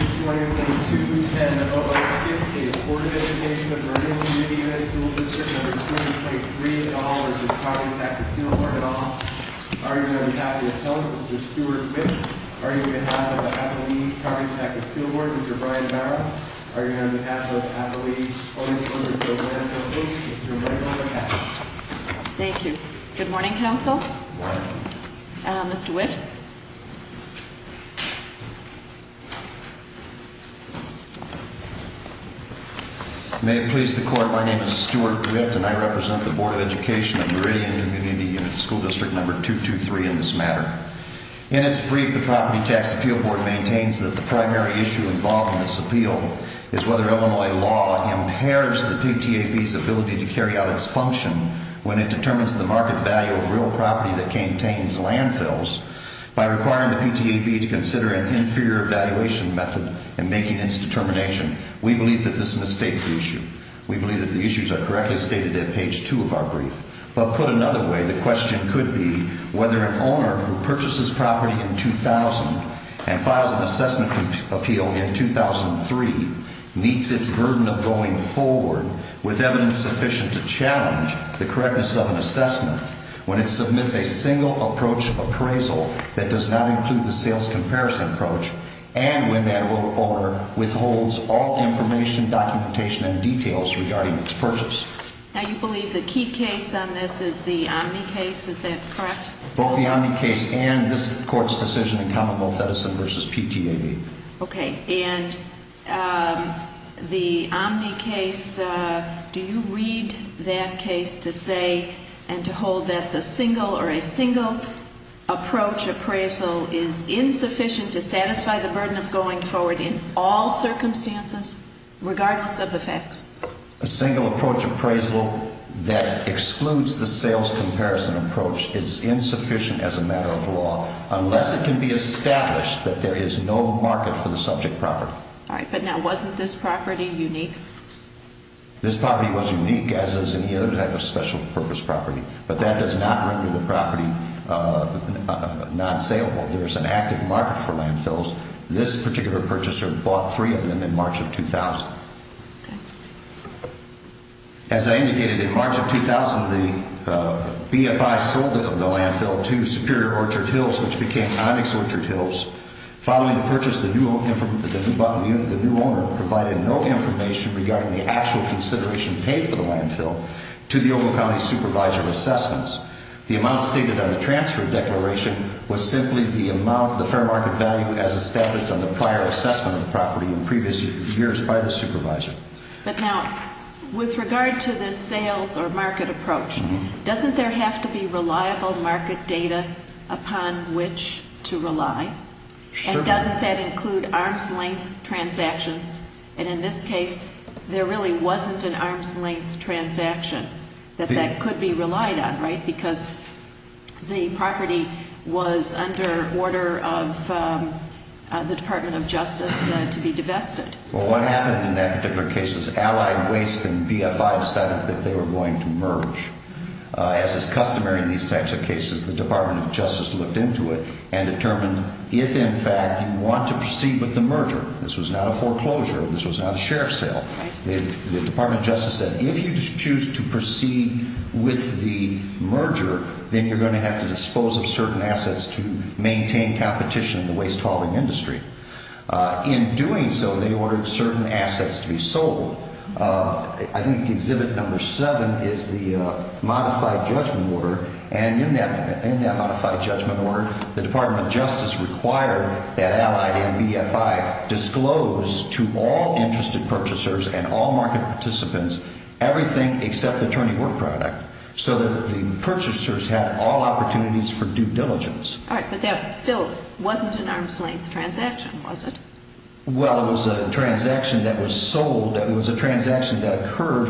This morning, the 210-068 Board of Education of Meridian Community Unit School District No. 223 and all is the Property Tax Appeal Board. On behalf of the Appeal, Mr. Stuart Whitt. On behalf of the Property Tax Appeal Board, Mr. Brian Barrow. On behalf of the Property Tax Appeal Board, Mr. Michael McHatch. Thank you. Good morning, Council. Good morning. Mr. Whitt. May it please the Court, my name is Stuart Whitt and I represent the Board of Education of Meridian Community Unit School District No. 223 in this matter. In its brief, the Property Tax Appeal Board maintains that the primary issue involved in this appeal is whether Illinois law impairs the PTAB's ability to carry out its function when it determines the market value of real property that contains landfills by requiring the PTAB to consider an inferior valuation method in making its determination. We believe that this mistakes the issue. We believe that the issues are correctly stated at page 2 of our brief. But put another way, the question could be whether an owner who purchases property in 2000 and files an assessment appeal in 2003 meets its burden of going forward with evidence sufficient to challenge the correctness of an assessment when it submits a single approach appraisal that does not include the sales comparison approach and when that owner withholds all information, documentation, and details regarding its purchase. Now you believe the key case on this is the Omni case, is that correct? Both the Omni case and this Court's decision in Commonwealth Edison v. PTAB. Okay, and the Omni case, do you read that case to say and to hold that the single or a single approach appraisal is insufficient to satisfy the burden of going forward in all circumstances, regardless of the facts? A single approach appraisal that excludes the sales comparison approach is insufficient as a matter of law unless it can be established that there is no market for the subject property. All right, but now wasn't this property unique? This property was unique, as is any other type of special purpose property. But that does not render the property non-saleable. There is an active market for landfills. This particular purchaser bought three of them in March of 2000. As I indicated, in March of 2000, the BFI sold the landfill to Superior Orchard Hills, which became Onyx Orchard Hills. Following the purchase, the new owner provided no information regarding the actual consideration paid for the landfill to the Ogle County Supervisor of Assessments. The amount stated on the transfer declaration was simply the amount the fair market value as established on the prior assessment of the property in previous years by the supervisor. But now, with regard to the sales or market approach, doesn't there have to be reliable market data upon which to rely? And doesn't that include arm's-length transactions? And in this case, there really wasn't an arm's-length transaction that that could be relied on, right? Because the property was under order of the Department of Justice to be divested. Well, what happened in that particular case is Allied Waste and BFI decided that they were going to merge. As is customary in these types of cases, the Department of Justice looked into it and determined if, in fact, you want to proceed with the merger. This was not a foreclosure. This was not a sheriff's sale. The Department of Justice said, if you choose to proceed with the merger, then you're going to have to dispose of certain assets to maintain competition in the waste hauling industry. In doing so, they ordered certain assets to be sold. I think Exhibit No. 7 is the modified judgment order, and in that modified judgment order, the Department of Justice required that Allied and BFI disclose to all interested purchasers and all market participants everything except the tourney work product so that the purchasers had all opportunities for due diligence. All right, but that still wasn't an arm's-length transaction, was it? Well, it was a transaction that was sold. It was a transaction that occurred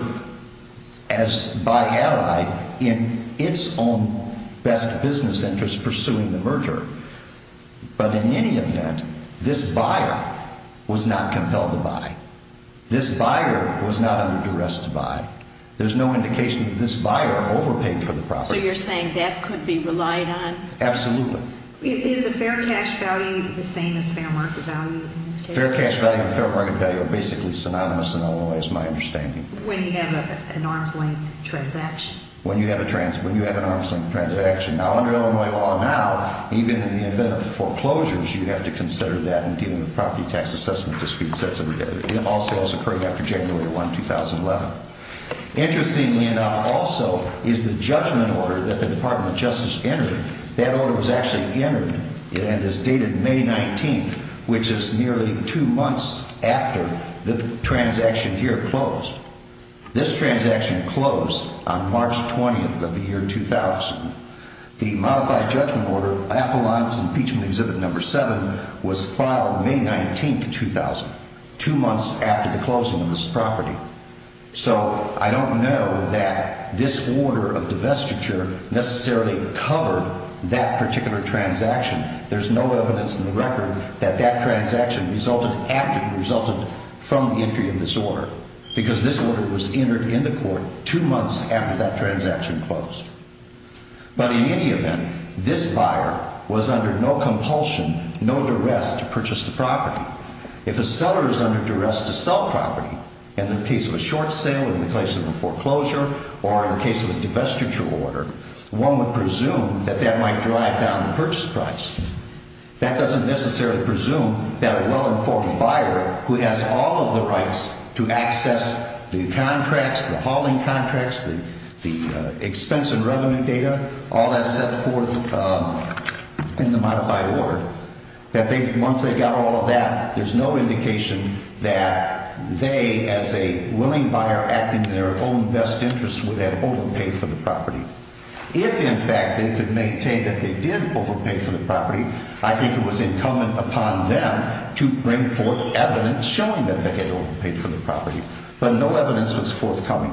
by Allied in its own best business interest pursuing the merger. But in any event, this buyer was not compelled to buy. This buyer was not under duress to buy. There's no indication that this buyer overpaid for the property. So you're saying that could be relied on? Absolutely. Is the fair cash value the same as fair market value in this case? The fair cash value and the fair market value are basically synonymous in Illinois, is my understanding. When you have an arm's-length transaction? When you have an arm's-length transaction. Now, under Illinois law now, even in the event of foreclosures, you'd have to consider that in dealing with property tax assessment disputes. That's all sales occurring after January 1, 2011. Interestingly enough also is the judgment order that the Department of Justice entered. That order was actually entered and is dated May 19th, which is nearly two months after the transaction here closed. This transaction closed on March 20th of the year 2000. The modified judgment order, Appellant's Impeachment Exhibit No. 7, was filed May 19th, 2000, two months after the closing of this property. So I don't know that this order of divestiture necessarily covered that particular transaction. There's no evidence in the record that that transaction resulted after it resulted from the entry of this order because this order was entered into court two months after that transaction closed. But in any event, this buyer was under no compulsion, no duress to purchase the property. If a seller is under duress to sell property, in the case of a short sale, in the case of a foreclosure, or in the case of a divestiture order, one would presume that that might drive down the purchase price. That doesn't necessarily presume that a well-informed buyer who has all of the rights to access the contracts, the hauling contracts, the expense and revenue data, all that's set forth in the modified order, that once they got all of that, there's no indication that they, as a willing buyer acting in their own best interest, would have overpaid for the property. If, in fact, they could maintain that they did overpay for the property, I think it was incumbent upon them to bring forth evidence showing that they had overpaid for the property. But no evidence was forthcoming.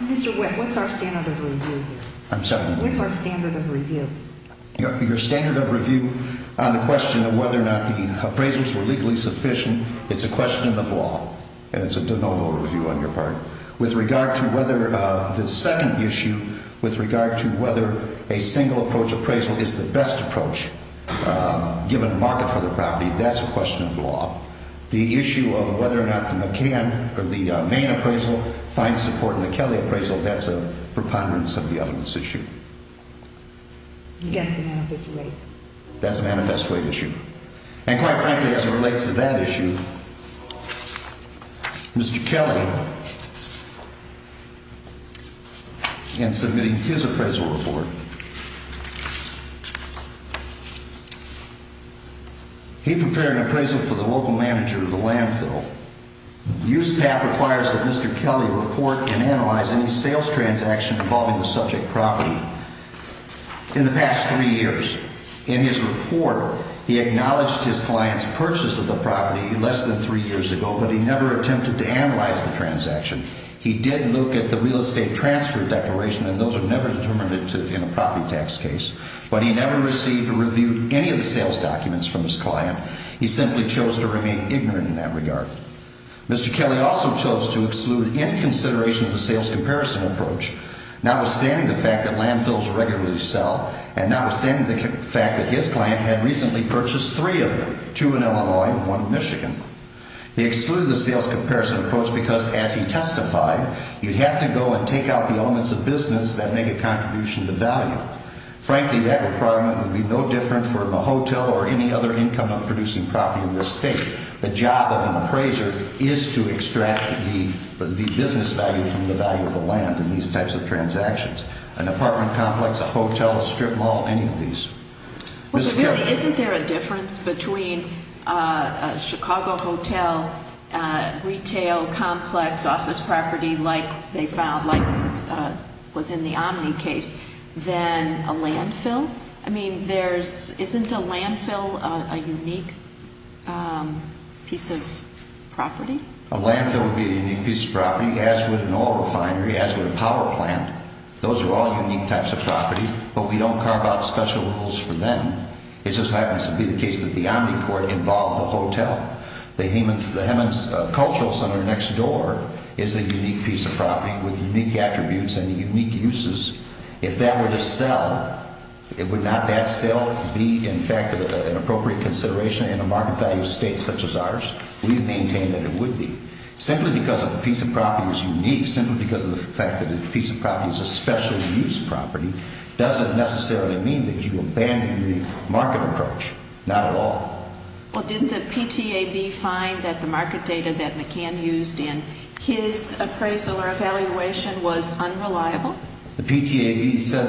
Mr. Wendt, what's our standard of review here? I'm sorry? What's our standard of review? Your standard of review on the question of whether or not the appraisals were legally sufficient, it's a question of law, and it's a de novo review on your part. With regard to whether the second issue, with regard to whether a single-approach appraisal is the best approach, given market for the property, that's a question of law. The issue of whether or not the McCann or the Main appraisal finds support in the Kelly appraisal, that's a preponderance of the evidence issue. Against the manifest weight. That's a manifest weight issue. And quite frankly, as it relates to that issue, Mr. Kelly, in submitting his appraisal report, he prepared an appraisal for the local manager of the landfill. USPAP requires that Mr. Kelly report and analyze any sales transaction involving the subject property in the past three years. In his report, he acknowledged his client's purchase of the property less than three years ago, but he never attempted to analyze the transaction. He did look at the real estate transfer declaration, and those are never determined in a property tax case. But he never received or reviewed any of the sales documents from his client. He simply chose to remain ignorant in that regard. Mr. Kelly also chose to exclude any consideration of the sales comparison approach, notwithstanding the fact that landfills regularly sell, and notwithstanding the fact that his client had recently purchased three of them, two in Illinois and one in Michigan. He excluded the sales comparison approach because, as he testified, you'd have to go and take out the elements of business that make a contribution to value. Frankly, that requirement would be no different from a hotel or any other income-producing property in this state. The job of an appraiser is to extract the business value from the value of the land in these types of transactions. An apartment complex, a hotel, a strip mall, any of these. But really, isn't there a difference between a Chicago hotel retail complex office property like they found, like was in the Omni case, than a landfill? I mean, isn't a landfill a unique piece of property? A landfill would be a unique piece of property, as would an oil refinery, as would a power plant. Those are all unique types of property, but we don't carve out special rules for them. It just happens to be the case that the Omni court involved the hotel. The Hemans Cultural Center next door is a unique piece of property with unique attributes and unique uses. If that were to sell, would not that sale be, in fact, an appropriate consideration in a market-value state such as ours? We maintain that it would be. Simply because a piece of property is unique, simply because of the fact that a piece of property is a special-use property, doesn't necessarily mean that you abandon the market approach, not at all. Well, didn't the PTAB find that the market data that McCann used in his appraisal or evaluation was unreliable? The PTAB said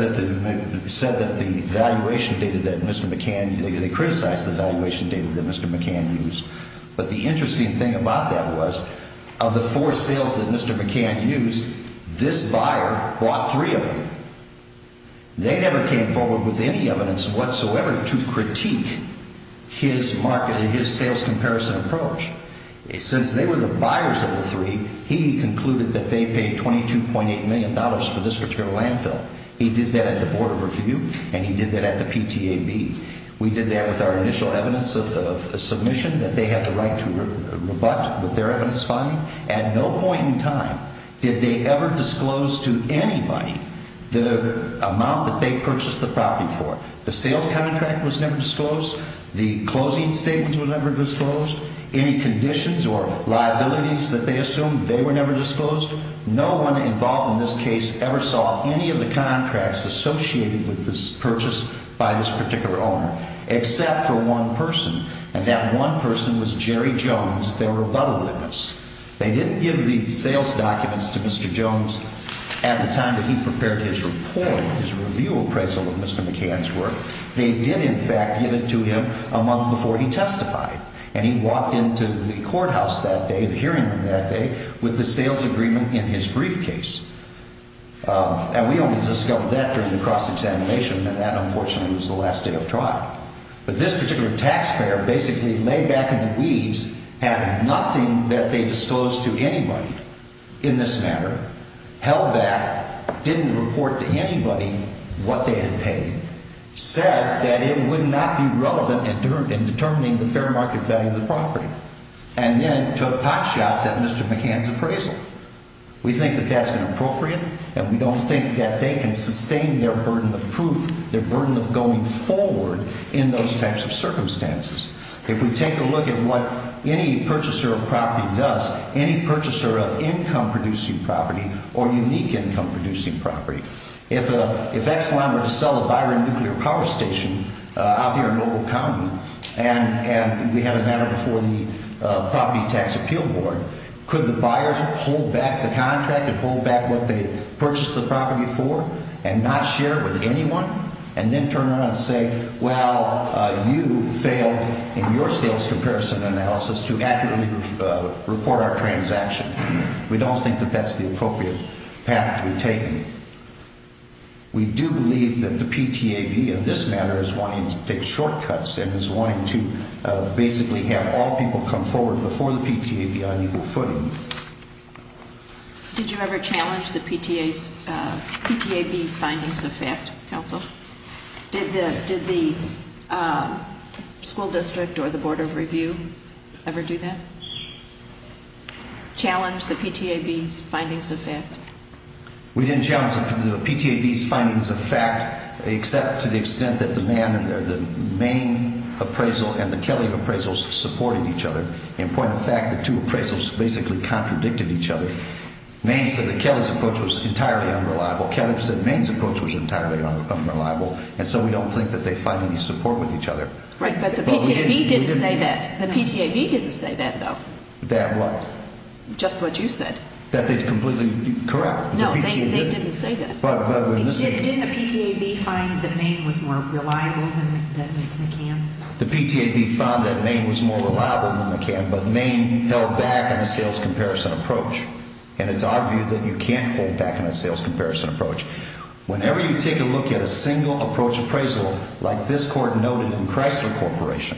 that the valuation data that Mr. McCann, they criticized the valuation data that Mr. McCann used. But the interesting thing about that was, of the four sales that Mr. McCann used, this buyer bought three of them. They never came forward with any evidence whatsoever to critique his sales comparison approach. Since they were the buyers of the three, he concluded that they paid $22.8 million for this particular landfill. He did that at the Board of Review, and he did that at the PTAB. We did that with our initial evidence of submission that they had the right to rebut with their evidence finding. At no point in time did they ever disclose to anybody the amount that they purchased the property for. The sales contract was never disclosed. The closing statements were never disclosed. Any conditions or liabilities that they assumed, they were never disclosed. No one involved in this case ever saw any of the contracts associated with this purchase by this particular owner, except for one person. And that one person was Jerry Jones, their rebuttal witness. They didn't give the sales documents to Mr. Jones at the time that he prepared his report, his review appraisal of Mr. McCann's work. They did, in fact, give it to him a month before he testified. And he walked into the courthouse that day, the hearing room that day, with the sales agreement in his briefcase. And we only discovered that during the cross-examination, and that, unfortunately, was the last day of trial. But this particular taxpayer basically laid back in the weeds, had nothing that they disclosed to anybody in this matter, held back, didn't report to anybody what they had paid, said that it would not be relevant in determining the fair market value of the property, and then took hot shots at Mr. McCann's appraisal. We think that that's inappropriate, and we don't think that they can sustain their burden of proof, their burden of going forward in those types of circumstances. If we take a look at what any purchaser of property does, any purchaser of income-producing property or unique income-producing property, if Ex-Lime were to sell a Byron Nuclear Power Station out here in Noble County, and we had a matter before the Property Tax Appeal Board, could the buyers hold back the contract and hold back what they purchased the property for and not share it with anyone, and then turn around and say, well, you failed in your sales comparison analysis to accurately report our transaction? We don't think that that's the appropriate path to be taken. We do believe that the PTAB in this matter is wanting to take shortcuts and is wanting to basically have all people come forward before the PTAB on equal footing. Did you ever challenge the PTAB's findings of fact, Counsel? Did the school district or the Board of Review ever do that? Challenge the PTAB's findings of fact? We didn't challenge the PTAB's findings of fact, except to the extent that the Maine appraisal and the Kelly appraisals supported each other. In point of fact, the two appraisals basically contradicted each other. Maine said that Kelly's approach was entirely unreliable. Kelly said Maine's approach was entirely unreliable, and so we don't think that they find any support with each other. Right, but the PTAB didn't say that. The PTAB didn't say that, though. That what? Just what you said. That they'd completely correct. No, they didn't say that. Didn't the PTAB find that Maine was more reliable than McCann? The PTAB found that Maine was more reliable than McCann, but Maine held back on a sales comparison approach, and it's our view that you can't hold back on a sales comparison approach. Whenever you take a look at a single approach appraisal like this court noted in Chrysler Corporation,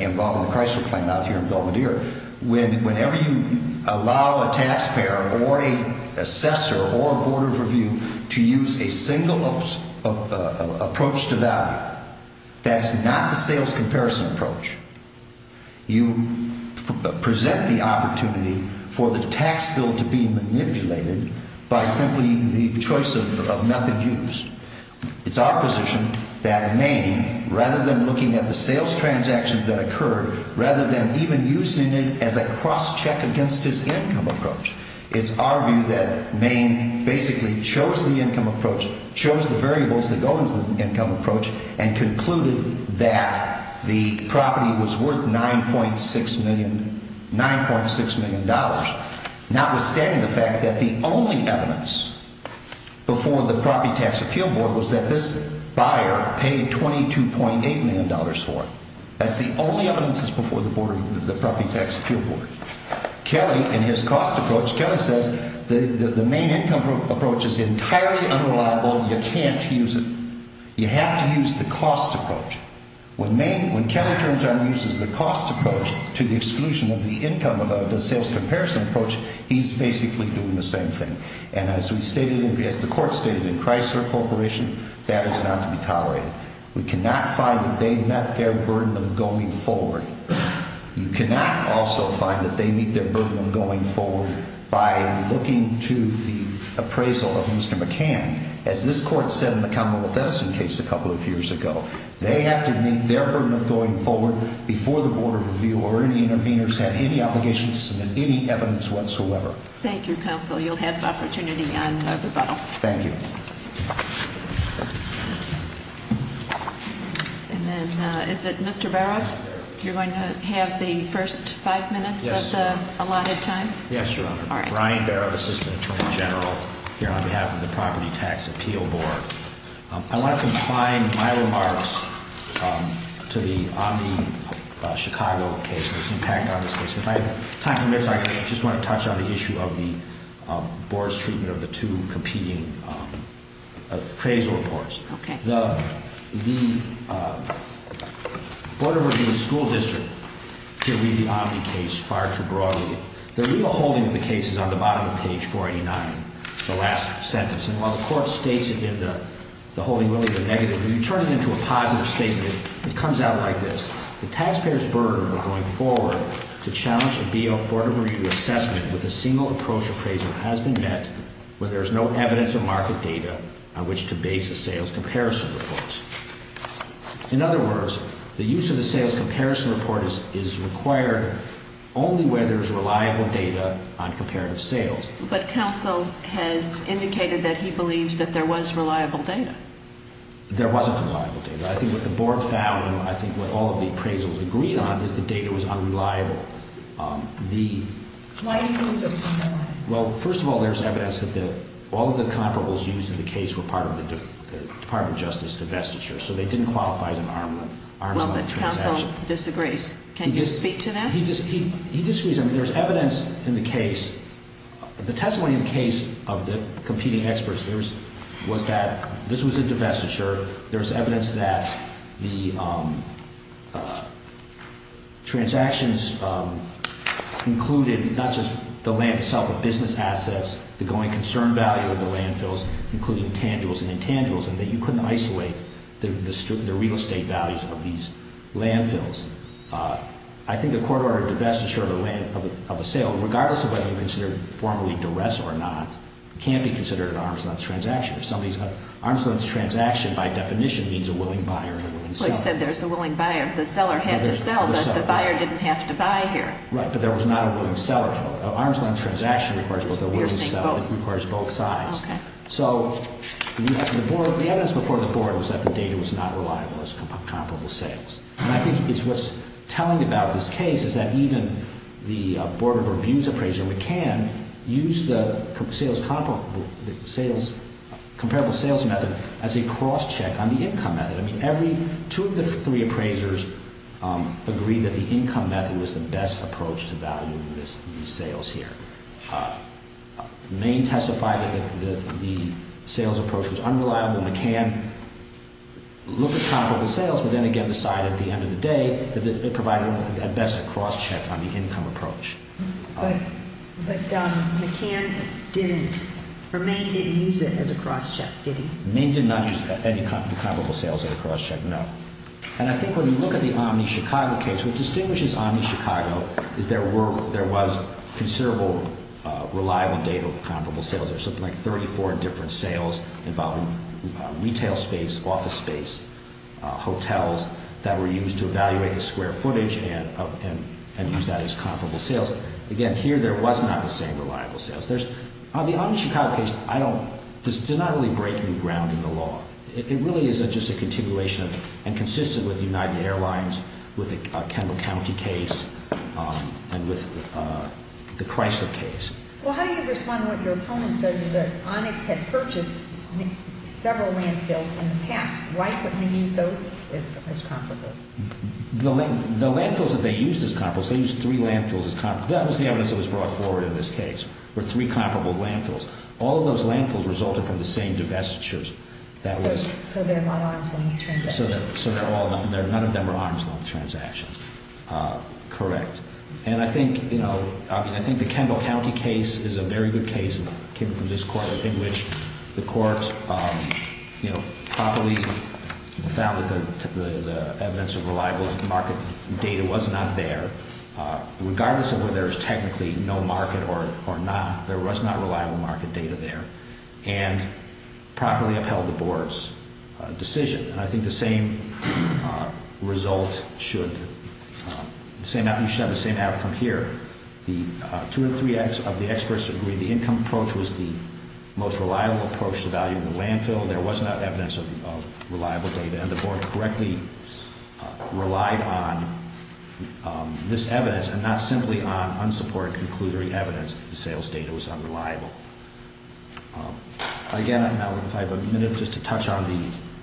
involving the Chrysler claim out here in Belvedere, whenever you allow a taxpayer or an assessor or a board of review to use a single approach to value, that's not the sales comparison approach. You present the opportunity for the tax bill to be manipulated by simply the choice of method used. It's our position that Maine, rather than looking at the sales transaction that occurred, rather than even using it as a cross-check against his income approach, it's our view that Maine basically chose the income approach, chose the variables that go into the income approach, and concluded that the property was worth $9.6 million, notwithstanding the fact that the only evidence before the Property Tax Appeal Board was that this buyer paid $22.8 million for it. That's the only evidence that's before the Property Tax Appeal Board. Kelly, in his cost approach, Kelly says the Maine income approach is entirely unreliable, you can't use it. You have to use the cost approach. When Maine, when Kelly turns around and uses the cost approach to the exclusion of the income of the sales comparison approach, he's basically doing the same thing. And as we stated, as the court stated in Chrysler Corporation, that is not to be tolerated. We cannot find that they met their burden of going forward. You cannot also find that they meet their burden of going forward by looking to the appraisal of Mr. McCann. As this court said in the Commonwealth Edison case a couple of years ago, they have to meet their burden of going forward before the Board of Review or any interveners have any obligation to submit any evidence whatsoever. Thank you, Counsel. You'll have opportunity on rebuttal. Thank you. And then, is it Mr. Baroff? You're going to have the first five minutes of the allotted time? Yes, Your Honor. All right. Brian Baroff, Assistant Attorney General, here on behalf of the Property Tax Appeal Board. I want to confine my remarks to the Omni Chicago case and its impact on this case. If I have time for this, I just want to touch on the issue of the board's treatment of the two competing appraisal reports. Okay. The Board of Review and School District can read the Omni case far too broadly. The real holding of the case is on the bottom of page 489, the last sentence. And while the court states it in the holding, really, the negative, when you turn it into a positive statement, it comes out like this. The taxpayers' burden of going forward to challenge a B.O. Board of Review assessment with a single approach appraisal has been met where there is no evidence or market data on which to base the sales comparison reports. In other words, the use of the sales comparison report is required only where there is reliable data on comparative sales. But Counsel has indicated that he believes that there was reliable data. There wasn't reliable data. I think what the board found and I think what all of the appraisals agreed on is the data was unreliable. Why do you think that was unreliable? Well, first of all, there's evidence that all of the comparables used in the case were part of the Department of Justice divestiture, so they didn't qualify as an arm's-length transaction. Well, but Counsel disagrees. Can you speak to that? He disagrees. I mean, there's evidence in the case. The testimony in the case of the competing experts was that this was a divestiture. There's evidence that the transactions included not just the land itself but business assets, the going concern value of the landfills, including tangibles and intangibles, and that you couldn't isolate the real estate values of these landfills. I think a court-ordered divestiture of a sale, regardless of whether you consider it formally duress or not, can't be considered an arm's-length transaction. Arm's-length transaction, by definition, means a willing buyer and a willing seller. Well, you said there's a willing buyer. The seller had to sell, but the buyer didn't have to buy here. Right, but there was not a willing seller. An arm's-length transaction requires both a willing seller. You're saying both. It requires both sides. Okay. So the evidence before the Board was that the data was not reliable as comparable sales. And I think what's telling about this case is that even the Board of Review's appraiser, McCann, used the comparable sales method as a cross-check on the income method. I mean, two of the three appraisers agreed that the income method was the best approach to value these sales here. Maine testified that the sales approach was unreliable. McCann looked at comparable sales but then again decided at the end of the day that it provided at best a cross-check on the income approach. But McCann didn't, or Maine didn't use it as a cross-check, did he? Maine did not use any comparable sales as a cross-check, no. And I think when you look at the OmniChicago case, what distinguishes OmniChicago is there was considerable reliable data of comparable sales. There's something like 34 different sales involving retail space, office space, hotels that were used to evaluate the square footage and use that as comparable sales. Again, here there was not the same reliable sales. The OmniChicago case did not really break new ground in the law. It really is just a continuation and consistent with United Airlines, with the Kendall County case, and with the Chrysler case. Well, how do you respond to what your opponent says is that Onyx had purchased several landfills in the past. Why couldn't they use those as comparable? The landfills that they used as comparable, they used three landfills as comparable. That was the evidence that was brought forward in this case, were three comparable landfills. All of those landfills resulted from the same divestitures. So they're not arm's-length transactions. So none of them are arm's-length transactions, correct. And I think, you know, I think the Kendall County case is a very good case, came from this court, in which the court, you know, properly found that the evidence of reliable market data was not there. Regardless of whether there's technically no market or not, there was not reliable market data there and properly upheld the board's decision. And I think the same result should, you should have the same outcome here. The two or three of the experts agreed the income approach was the most reliable approach to valuing the landfill. There was not evidence of reliable data. And the board correctly relied on this evidence and not simply on unsupported conclusory evidence that the sales data was unreliable. Again, if I have a minute just to touch on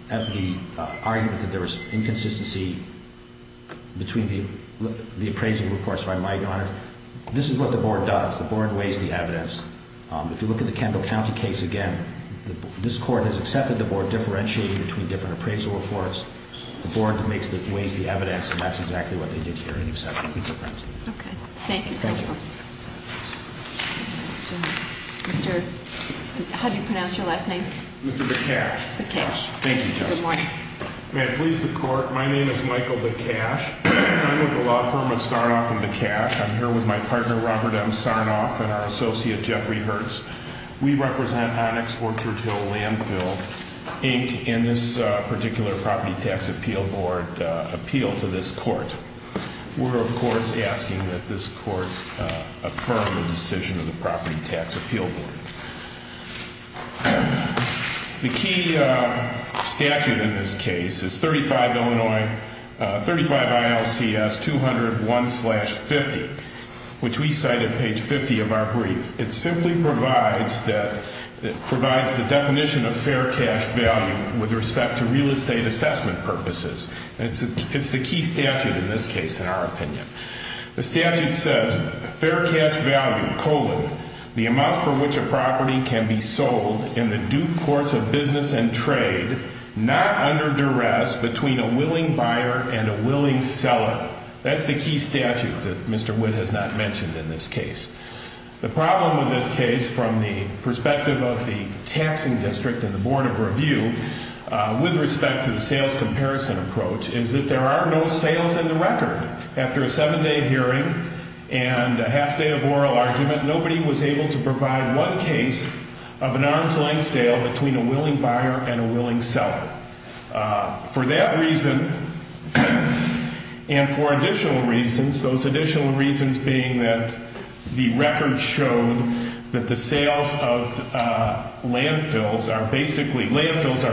the argument that there was inconsistency between the appraisal reports, if I might, Your Honor. This is what the board does. The board weighs the evidence. If you look at the Kendall County case again, this court has accepted the board differentiating between different appraisal reports. The board makes, weighs the evidence, and that's exactly what they did here in accepting the difference. Okay. Thank you, counsel. Thank you. Mr., how do you pronounce your last name? Mr. Bacash. Bacash. Thank you, Justice. Good morning. May it please the court, my name is Michael Bacash. I'm with the law firm of Sarnoff and Bacash. I'm here with my partner, Robert M. Sarnoff, and our associate, Jeffrey Hertz. We represent Onyx, Orchard Hill, Landfill, Inc., in this particular property tax appeal board appeal to this court. We're, of course, asking that this court affirm the decision of the property tax appeal board. The key statute in this case is 35 Illinois, 35 ILCS 200-1-50, which we cite at page 50 of our brief. It simply provides the definition of fair cash value with respect to real estate assessment purposes. It's the key statute in this case, in our opinion. The statute says, fair cash value, colon, the amount for which a property can be sold in the due course of business and trade, not under duress, between a willing buyer and a willing seller. That's the key statute that Mr. Witt has not mentioned in this case. The problem with this case, from the perspective of the taxing district and the board of review, with respect to the sales comparison approach, is that there are no sales in the record. After a seven-day hearing and a half-day of oral argument, nobody was able to provide one case of an arm's-length sale between a willing buyer and a willing seller. For that reason, and for additional reasons, those additional reasons being that the record showed that the sales of landfills are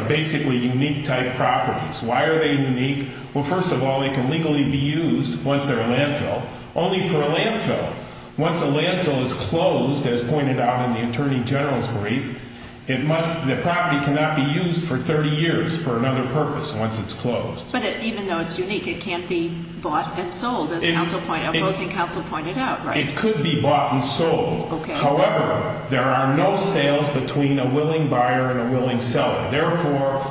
basically unique-type properties. Why are they unique? Well, first of all, they can legally be used once they're a landfill, only for a landfill. Once a landfill is closed, as pointed out in the Attorney General's brief, the property cannot be used for 30 years for another purpose once it's closed. But even though it's unique, it can't be bought and sold, as opposing counsel pointed out, right? It could be bought and sold. Okay. However, there are no sales between a willing buyer and a willing seller. Therefore,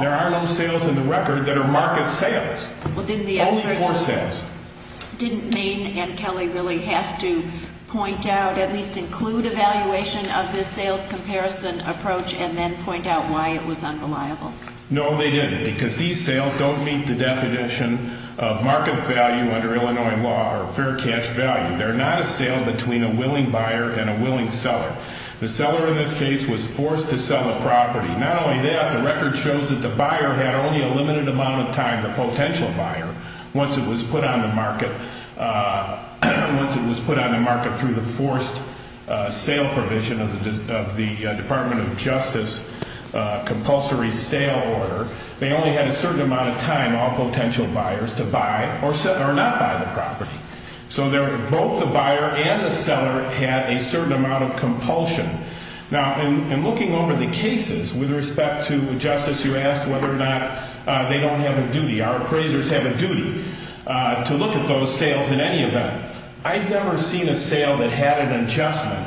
there are no sales in the record that are market sales. Only for sales. Did Maine and Kelly really have to point out, at least include evaluation of this sales comparison approach and then point out why it was unreliable? No, they didn't, because these sales don't meet the definition of market value under Illinois law or fair cash value. They're not a sale between a willing buyer and a willing seller. The seller in this case was forced to sell a property. Not only that, the record shows that the buyer had only a limited amount of time, the potential buyer, once it was put on the market through the forced sale provision of the Department of Justice compulsory sale order. They only had a certain amount of time, all potential buyers, to buy or not buy the property. So both the buyer and the seller had a certain amount of compulsion. Now, in looking over the cases, with respect to Justice, you asked whether or not they don't have a duty. Our appraisers have a duty to look at those sales in any event. I've never seen a sale that had an adjustment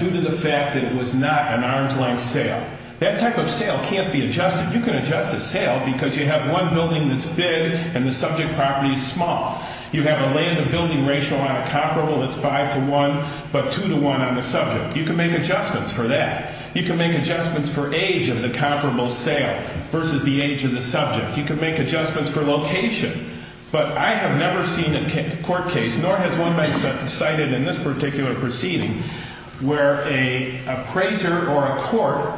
due to the fact that it was not an arm's length sale. That type of sale can't be adjusted. You can adjust a sale because you have one building that's big and the subject property is small. You have a land to building ratio on a comparable that's 5 to 1, but 2 to 1 on the subject. You can make adjustments for that. You can make adjustments for age of the comparable sale versus the age of the subject. You can make adjustments for location. But I have never seen a court case, nor has one been cited in this particular proceeding, where an appraiser or a court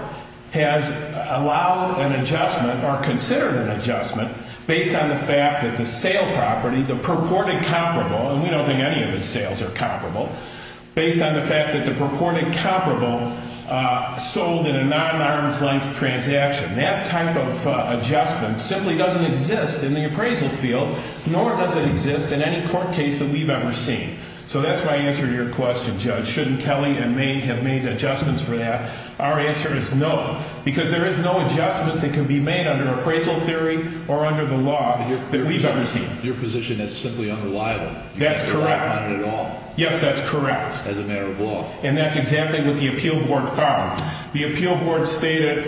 has allowed an adjustment or considered an adjustment based on the fact that the sale property, the purported comparable, and we don't think any of the sales are comparable, based on the fact that the purported comparable sold in a non-arm's length transaction. That type of adjustment simply doesn't exist in the appraisal field, nor does it exist in any court case that we've ever seen. So that's my answer to your question, Judge. Shouldn't Kelly and May have made adjustments for that? Our answer is no, because there is no adjustment that can be made under appraisal theory or under the law that we've ever seen. Your position is simply unreliable. That's correct. As a matter of law. Yes, that's correct. As a matter of law. And that's exactly what the Appeal Board found. The Appeal Board stated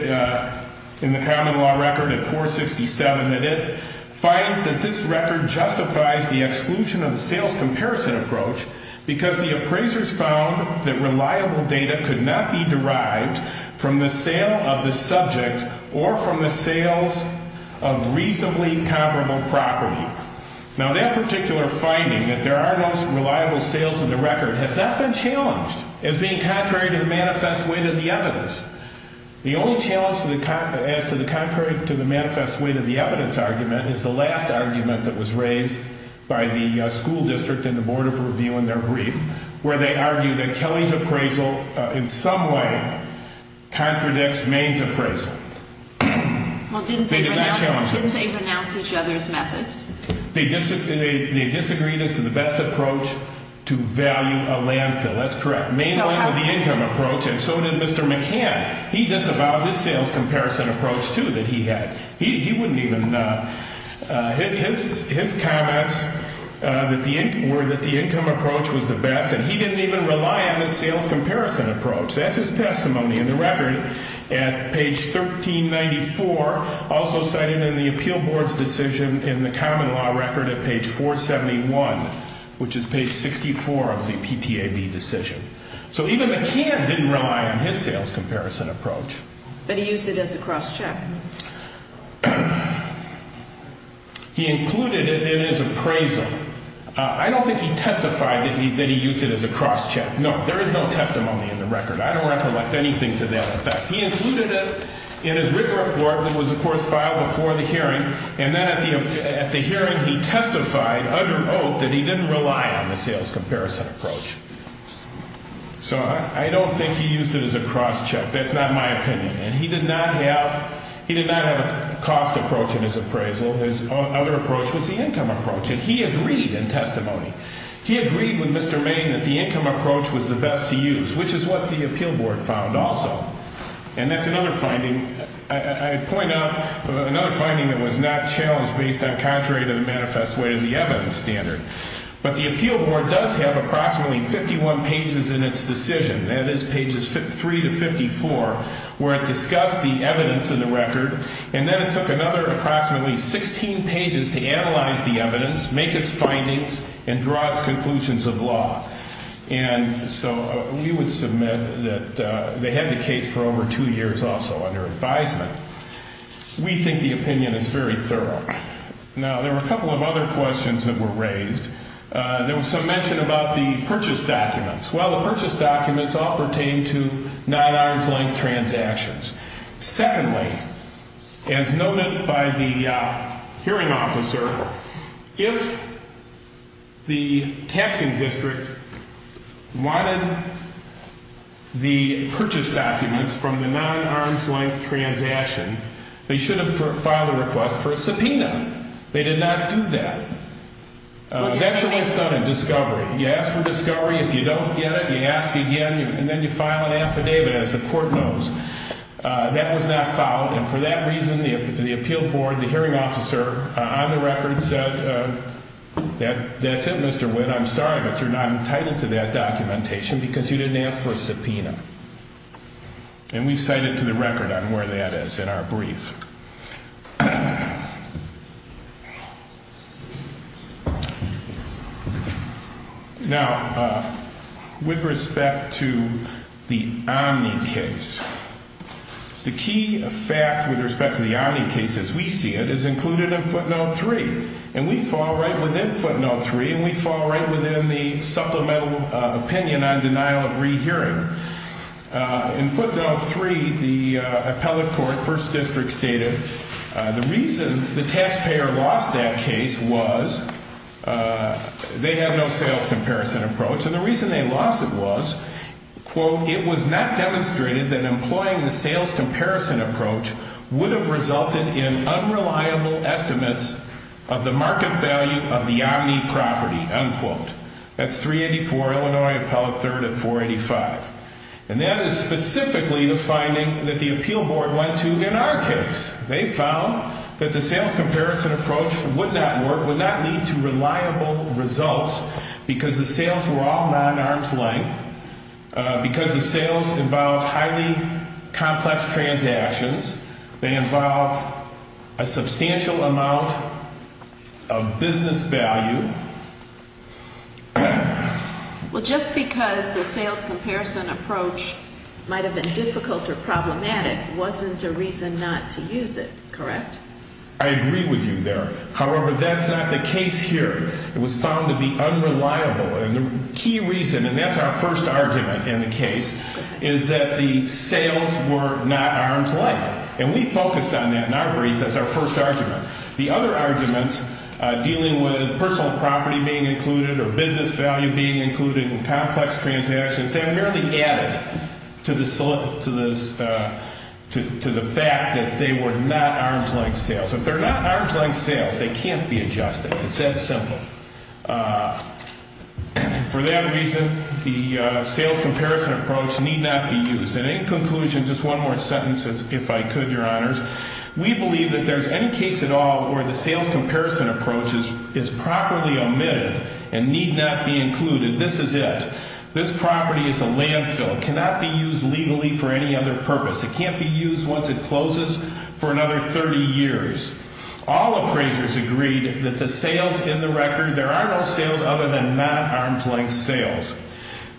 in the common law record at 467 that it finds that this record justifies the exclusion of the sales comparison approach because the appraisers found that reliable data could not be derived from the sale of the subject or from the sales of reasonably comparable property. Now, that particular finding, that there are no reliable sales in the record, has not been challenged as being contrary to the manifest weight of the evidence. The only challenge as to the contrary to the manifest weight of the evidence argument is the last argument that was raised by the school district and the Board of Review in their brief, where they argue that Kelly's appraisal in some way contradicts May's appraisal. Well, didn't they renounce each other's methods? They disagreed as to the best approach to value a landfill. That's correct. May wanted the income approach, and so did Mr. McCann. He disavowed his sales comparison approach, too, that he had. He wouldn't even hit his comments that the income approach was the best, and he didn't even rely on his sales comparison approach. That's his testimony in the record at page 1394, also cited in the appeal board's decision in the common law record at page 471, which is page 64 of the PTAB decision. So even McCann didn't rely on his sales comparison approach. But he used it as a cross-check. He included it in his appraisal. I don't think he testified that he used it as a cross-check. No, there is no testimony in the record. I don't recollect anything to that effect. He included it in his rigor report that was, of course, filed before the hearing, and then at the hearing he testified under oath that he didn't rely on the sales comparison approach. So I don't think he used it as a cross-check. That's not my opinion. And he did not have a cost approach in his appraisal. His other approach was the income approach, and he agreed in testimony. He agreed with Mr. Maine that the income approach was the best to use, which is what the appeal board found also. And that's another finding. I'd point out another finding that was not challenged based on contrary to the manifest way of the evidence standard. But the appeal board does have approximately 51 pages in its decision, that is, pages 3 to 54, where it discussed the evidence in the record. And then it took another approximately 16 pages to analyze the evidence, make its findings, and draw its conclusions of law. And so we would submit that they had the case for over two years also under advisement. We think the opinion is very thorough. Now, there were a couple of other questions that were raised. There was some mention about the purchase documents. Well, the purchase documents all pertain to not-arms-length transactions. Secondly, as noted by the hearing officer, if the taxing district wanted the purchase documents from the non-arms-length transaction, they should have filed a request for a subpoena. They did not do that. That's the way it's done in discovery. You ask for discovery. If you don't get it, you ask again, and then you file an affidavit as the court knows. That was not filed. And for that reason, the appeal board, the hearing officer on the record said, that's it, Mr. Witt. I'm sorry, but you're not entitled to that documentation because you didn't ask for a subpoena. And we cite it to the record on where that is in our brief. Now, with respect to the Omni case, the key fact with respect to the Omni case, as we see it, is included in footnote 3. And we fall right within footnote 3, and we fall right within the supplemental opinion on denial of rehearing. In footnote 3, the appellate court, first district, stated the reason the taxpayer lost that case was they had no sales comparison approach. And the reason they lost it was, quote, it was not demonstrated that employing the sales comparison approach would have resulted in unreliable estimates of the market value of the Omni property, unquote. That's 384, Illinois Appellate 3rd at 485. And that is specifically the finding that the appeal board went to in our case. They found that the sales comparison approach would not work, would not lead to reliable results because the sales were all non-arm's length, because the sales involved highly complex transactions. They involved a substantial amount of business value. Well, just because the sales comparison approach might have been difficult or problematic wasn't a reason not to use it, correct? I agree with you there. However, that's not the case here. It was found to be unreliable. And the key reason, and that's our first argument in the case, is that the sales were not arm's length. And we focused on that in our brief as our first argument. The other arguments dealing with personal property being included or business value being included in complex transactions, they are merely added to the fact that they were not arm's length sales. If they're not arm's length sales, they can't be adjusted. It's that simple. For that reason, the sales comparison approach need not be used. And in conclusion, just one more sentence, if I could, Your Honors. We believe that if there's any case at all where the sales comparison approach is properly omitted and need not be included, this is it. This property is a landfill. It cannot be used legally for any other purpose. It can't be used once it closes for another 30 years. All appraisers agreed that the sales in the record, there are no sales other than not arm's length sales.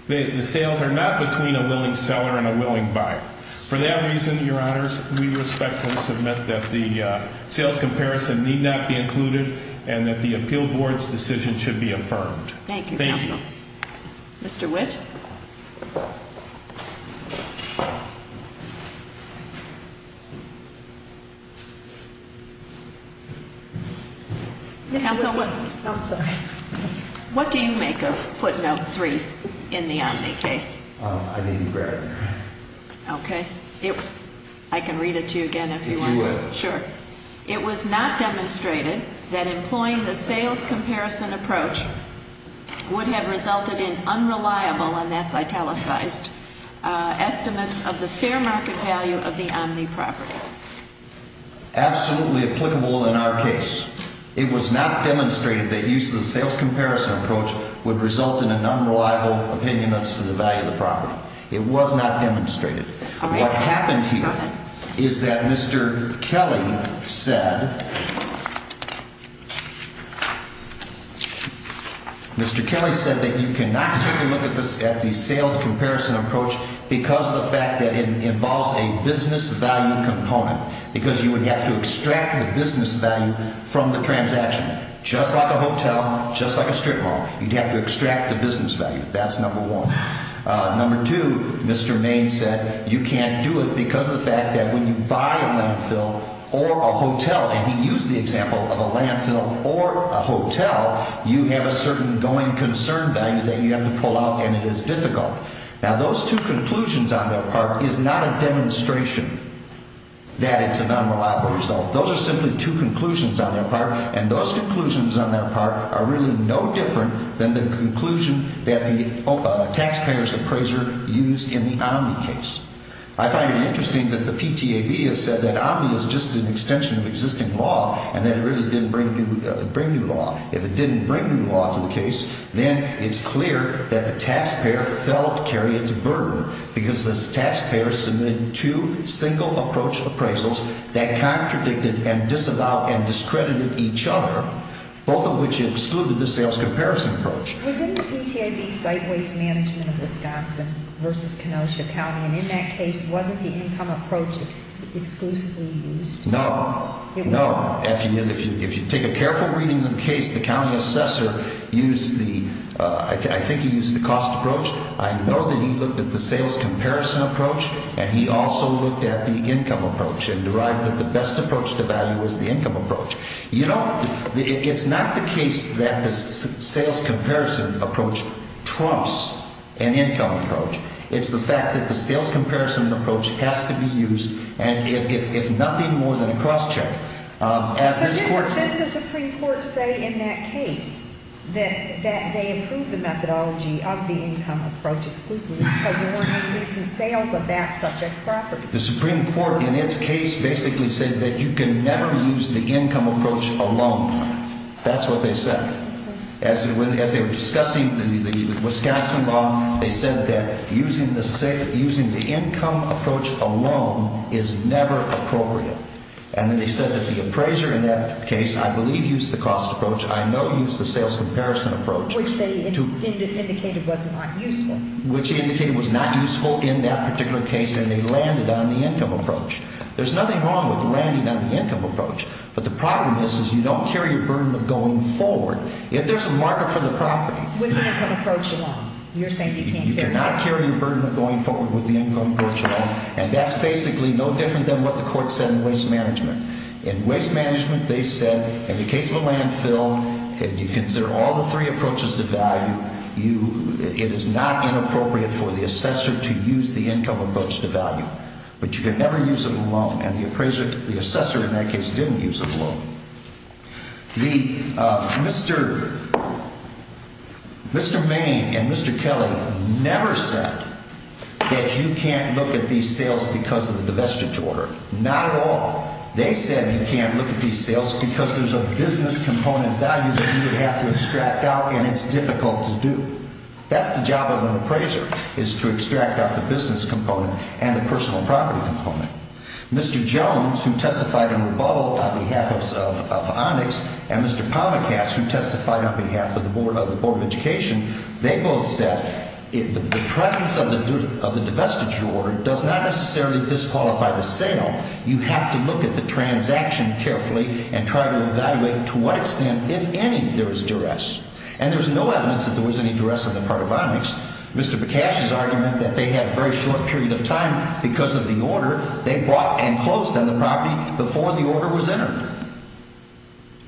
The sales are not between a willing seller and a willing buyer. For that reason, Your Honors, we respectfully submit that the sales comparison need not be included and that the appeal board's decision should be affirmed. Thank you, Counsel. Thank you. Mr. Witt. Counsel Witt. I'm sorry. What do you make of footnote three in the Omni case? I need you to grab it. Okay. I can read it to you again if you want. If you would. Sure. It was not demonstrated that employing the sales comparison approach would have resulted in unreliable, and that's italicized, estimates of the fair market value of the Omni property. Absolutely applicable in our case. It was not demonstrated that use of the sales comparison approach would result in an unreliable opinion as to the value of the property. It was not demonstrated. Okay. What happened here is that Mr. Kelly said that you cannot take a look at the sales comparison approach because of the fact that it involves a business value component. Because you would have to extract the business value from the transaction. Just like a hotel, just like a strip mall, you'd have to extract the business value. That's number one. Number two, Mr. Main said you can't do it because of the fact that when you buy a landfill or a hotel, and he used the example of a landfill or a hotel, you have a certain going concern value that you have to pull out, and it is difficult. Now, those two conclusions on their part is not a demonstration that it's an unreliable result. Those are simply two conclusions on their part, and those conclusions on their part are really no different than the conclusion that the taxpayer's appraiser used in the Omni case. I find it interesting that the PTAB has said that Omni is just an extension of existing law and that it really didn't bring new law. If it didn't bring new law to the case, then it's clear that the taxpayer felt carried its burden because the taxpayer submitted two single approach appraisals that contradicted and disavowed and discredited each other, both of which excluded the sales comparison approach. But didn't the PTAB cite waste management of Wisconsin versus Kenosha County, and in that case, wasn't the income approach exclusively used? No, no. If you take a careful reading of the case, the county assessor used the – I think he used the cost approach. I know that he looked at the sales comparison approach, and he also looked at the income approach and derived that the best approach to value was the income approach. You know, it's not the case that the sales comparison approach trumps an income approach. It's the fact that the sales comparison approach has to be used, and if nothing more than a crosscheck, as this Court – But didn't the Supreme Court say in that case that they approved the methodology of the income approach exclusively because there weren't any recent sales of that subject property? The Supreme Court in its case basically said that you can never use the income approach alone. That's what they said. As they were discussing the Wisconsin law, they said that using the income approach alone is never appropriate. And then they said that the appraiser in that case, I believe, used the cost approach. I know he used the sales comparison approach. Which they indicated was not useful. Which they indicated was not useful in that particular case, and they landed on the income approach. There's nothing wrong with landing on the income approach, but the problem is, is you don't carry your burden of going forward. If there's a market for the property – With the income approach alone. You're saying you can't carry – You cannot carry your burden of going forward with the income approach alone, and that's basically no different than what the Court said in waste management. In waste management, they said, in the case of a landfill, if you consider all the three approaches to value, you – it is not inappropriate for the assessor to use the income approach to value. But you can never use it alone, and the appraiser – the assessor in that case didn't use it alone. The – Mr. – Mr. Main and Mr. Kelly never said that you can't look at these sales because of the divestiture order. Not at all. They said you can't look at these sales because there's a business component value that you would have to extract out, and it's difficult to do. That's the job of an appraiser, is to extract out the business component and the personal property component. Mr. Jones, who testified in rebuttal on behalf of – of Onyx, and Mr. Palmacast, who testified on behalf of the Board of Education, they both said the presence of the divestiture order does not necessarily disqualify the sale. You have to look at the transaction carefully and try to evaluate to what extent, if any, there is duress. And there's no evidence that there was any duress on the part of Onyx. Mr. Bakash's argument that they had a very short period of time because of the order they brought and closed on the property before the order was entered.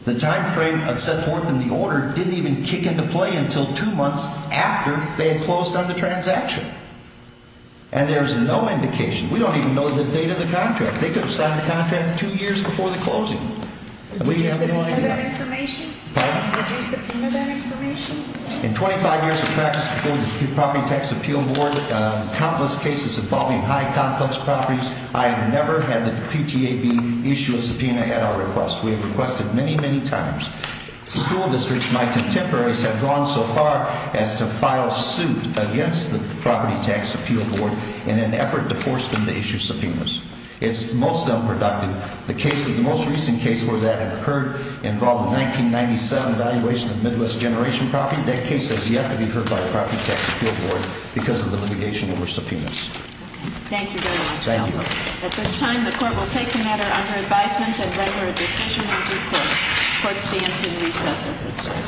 The timeframe set forth in the order didn't even kick into play until two months after they had closed on the transaction. And there's no indication – we don't even know the date of the contract. They could have signed the contract two years before the closing. Would you subpoena that information? Pardon? In 25 years of practice before the Property Tax Appeal Board, countless cases involving high-complex properties, I have never had the PTAB issue a subpoena at our request. We have requested many, many times. School districts, my contemporaries, have gone so far as to file suit against the Property Tax Appeal Board in an effort to force them to issue subpoenas. It's most unproductive. The most recent case where that occurred involved the 1997 evaluation of Midwest Generation property. That case has yet to be heard by the Property Tax Appeal Board because of the litigation over subpoenas. Thank you very much, Counsel. Thank you. At this time, the Court will take the matter under advisement and render a decision in due course. The Court stands in recess at this time.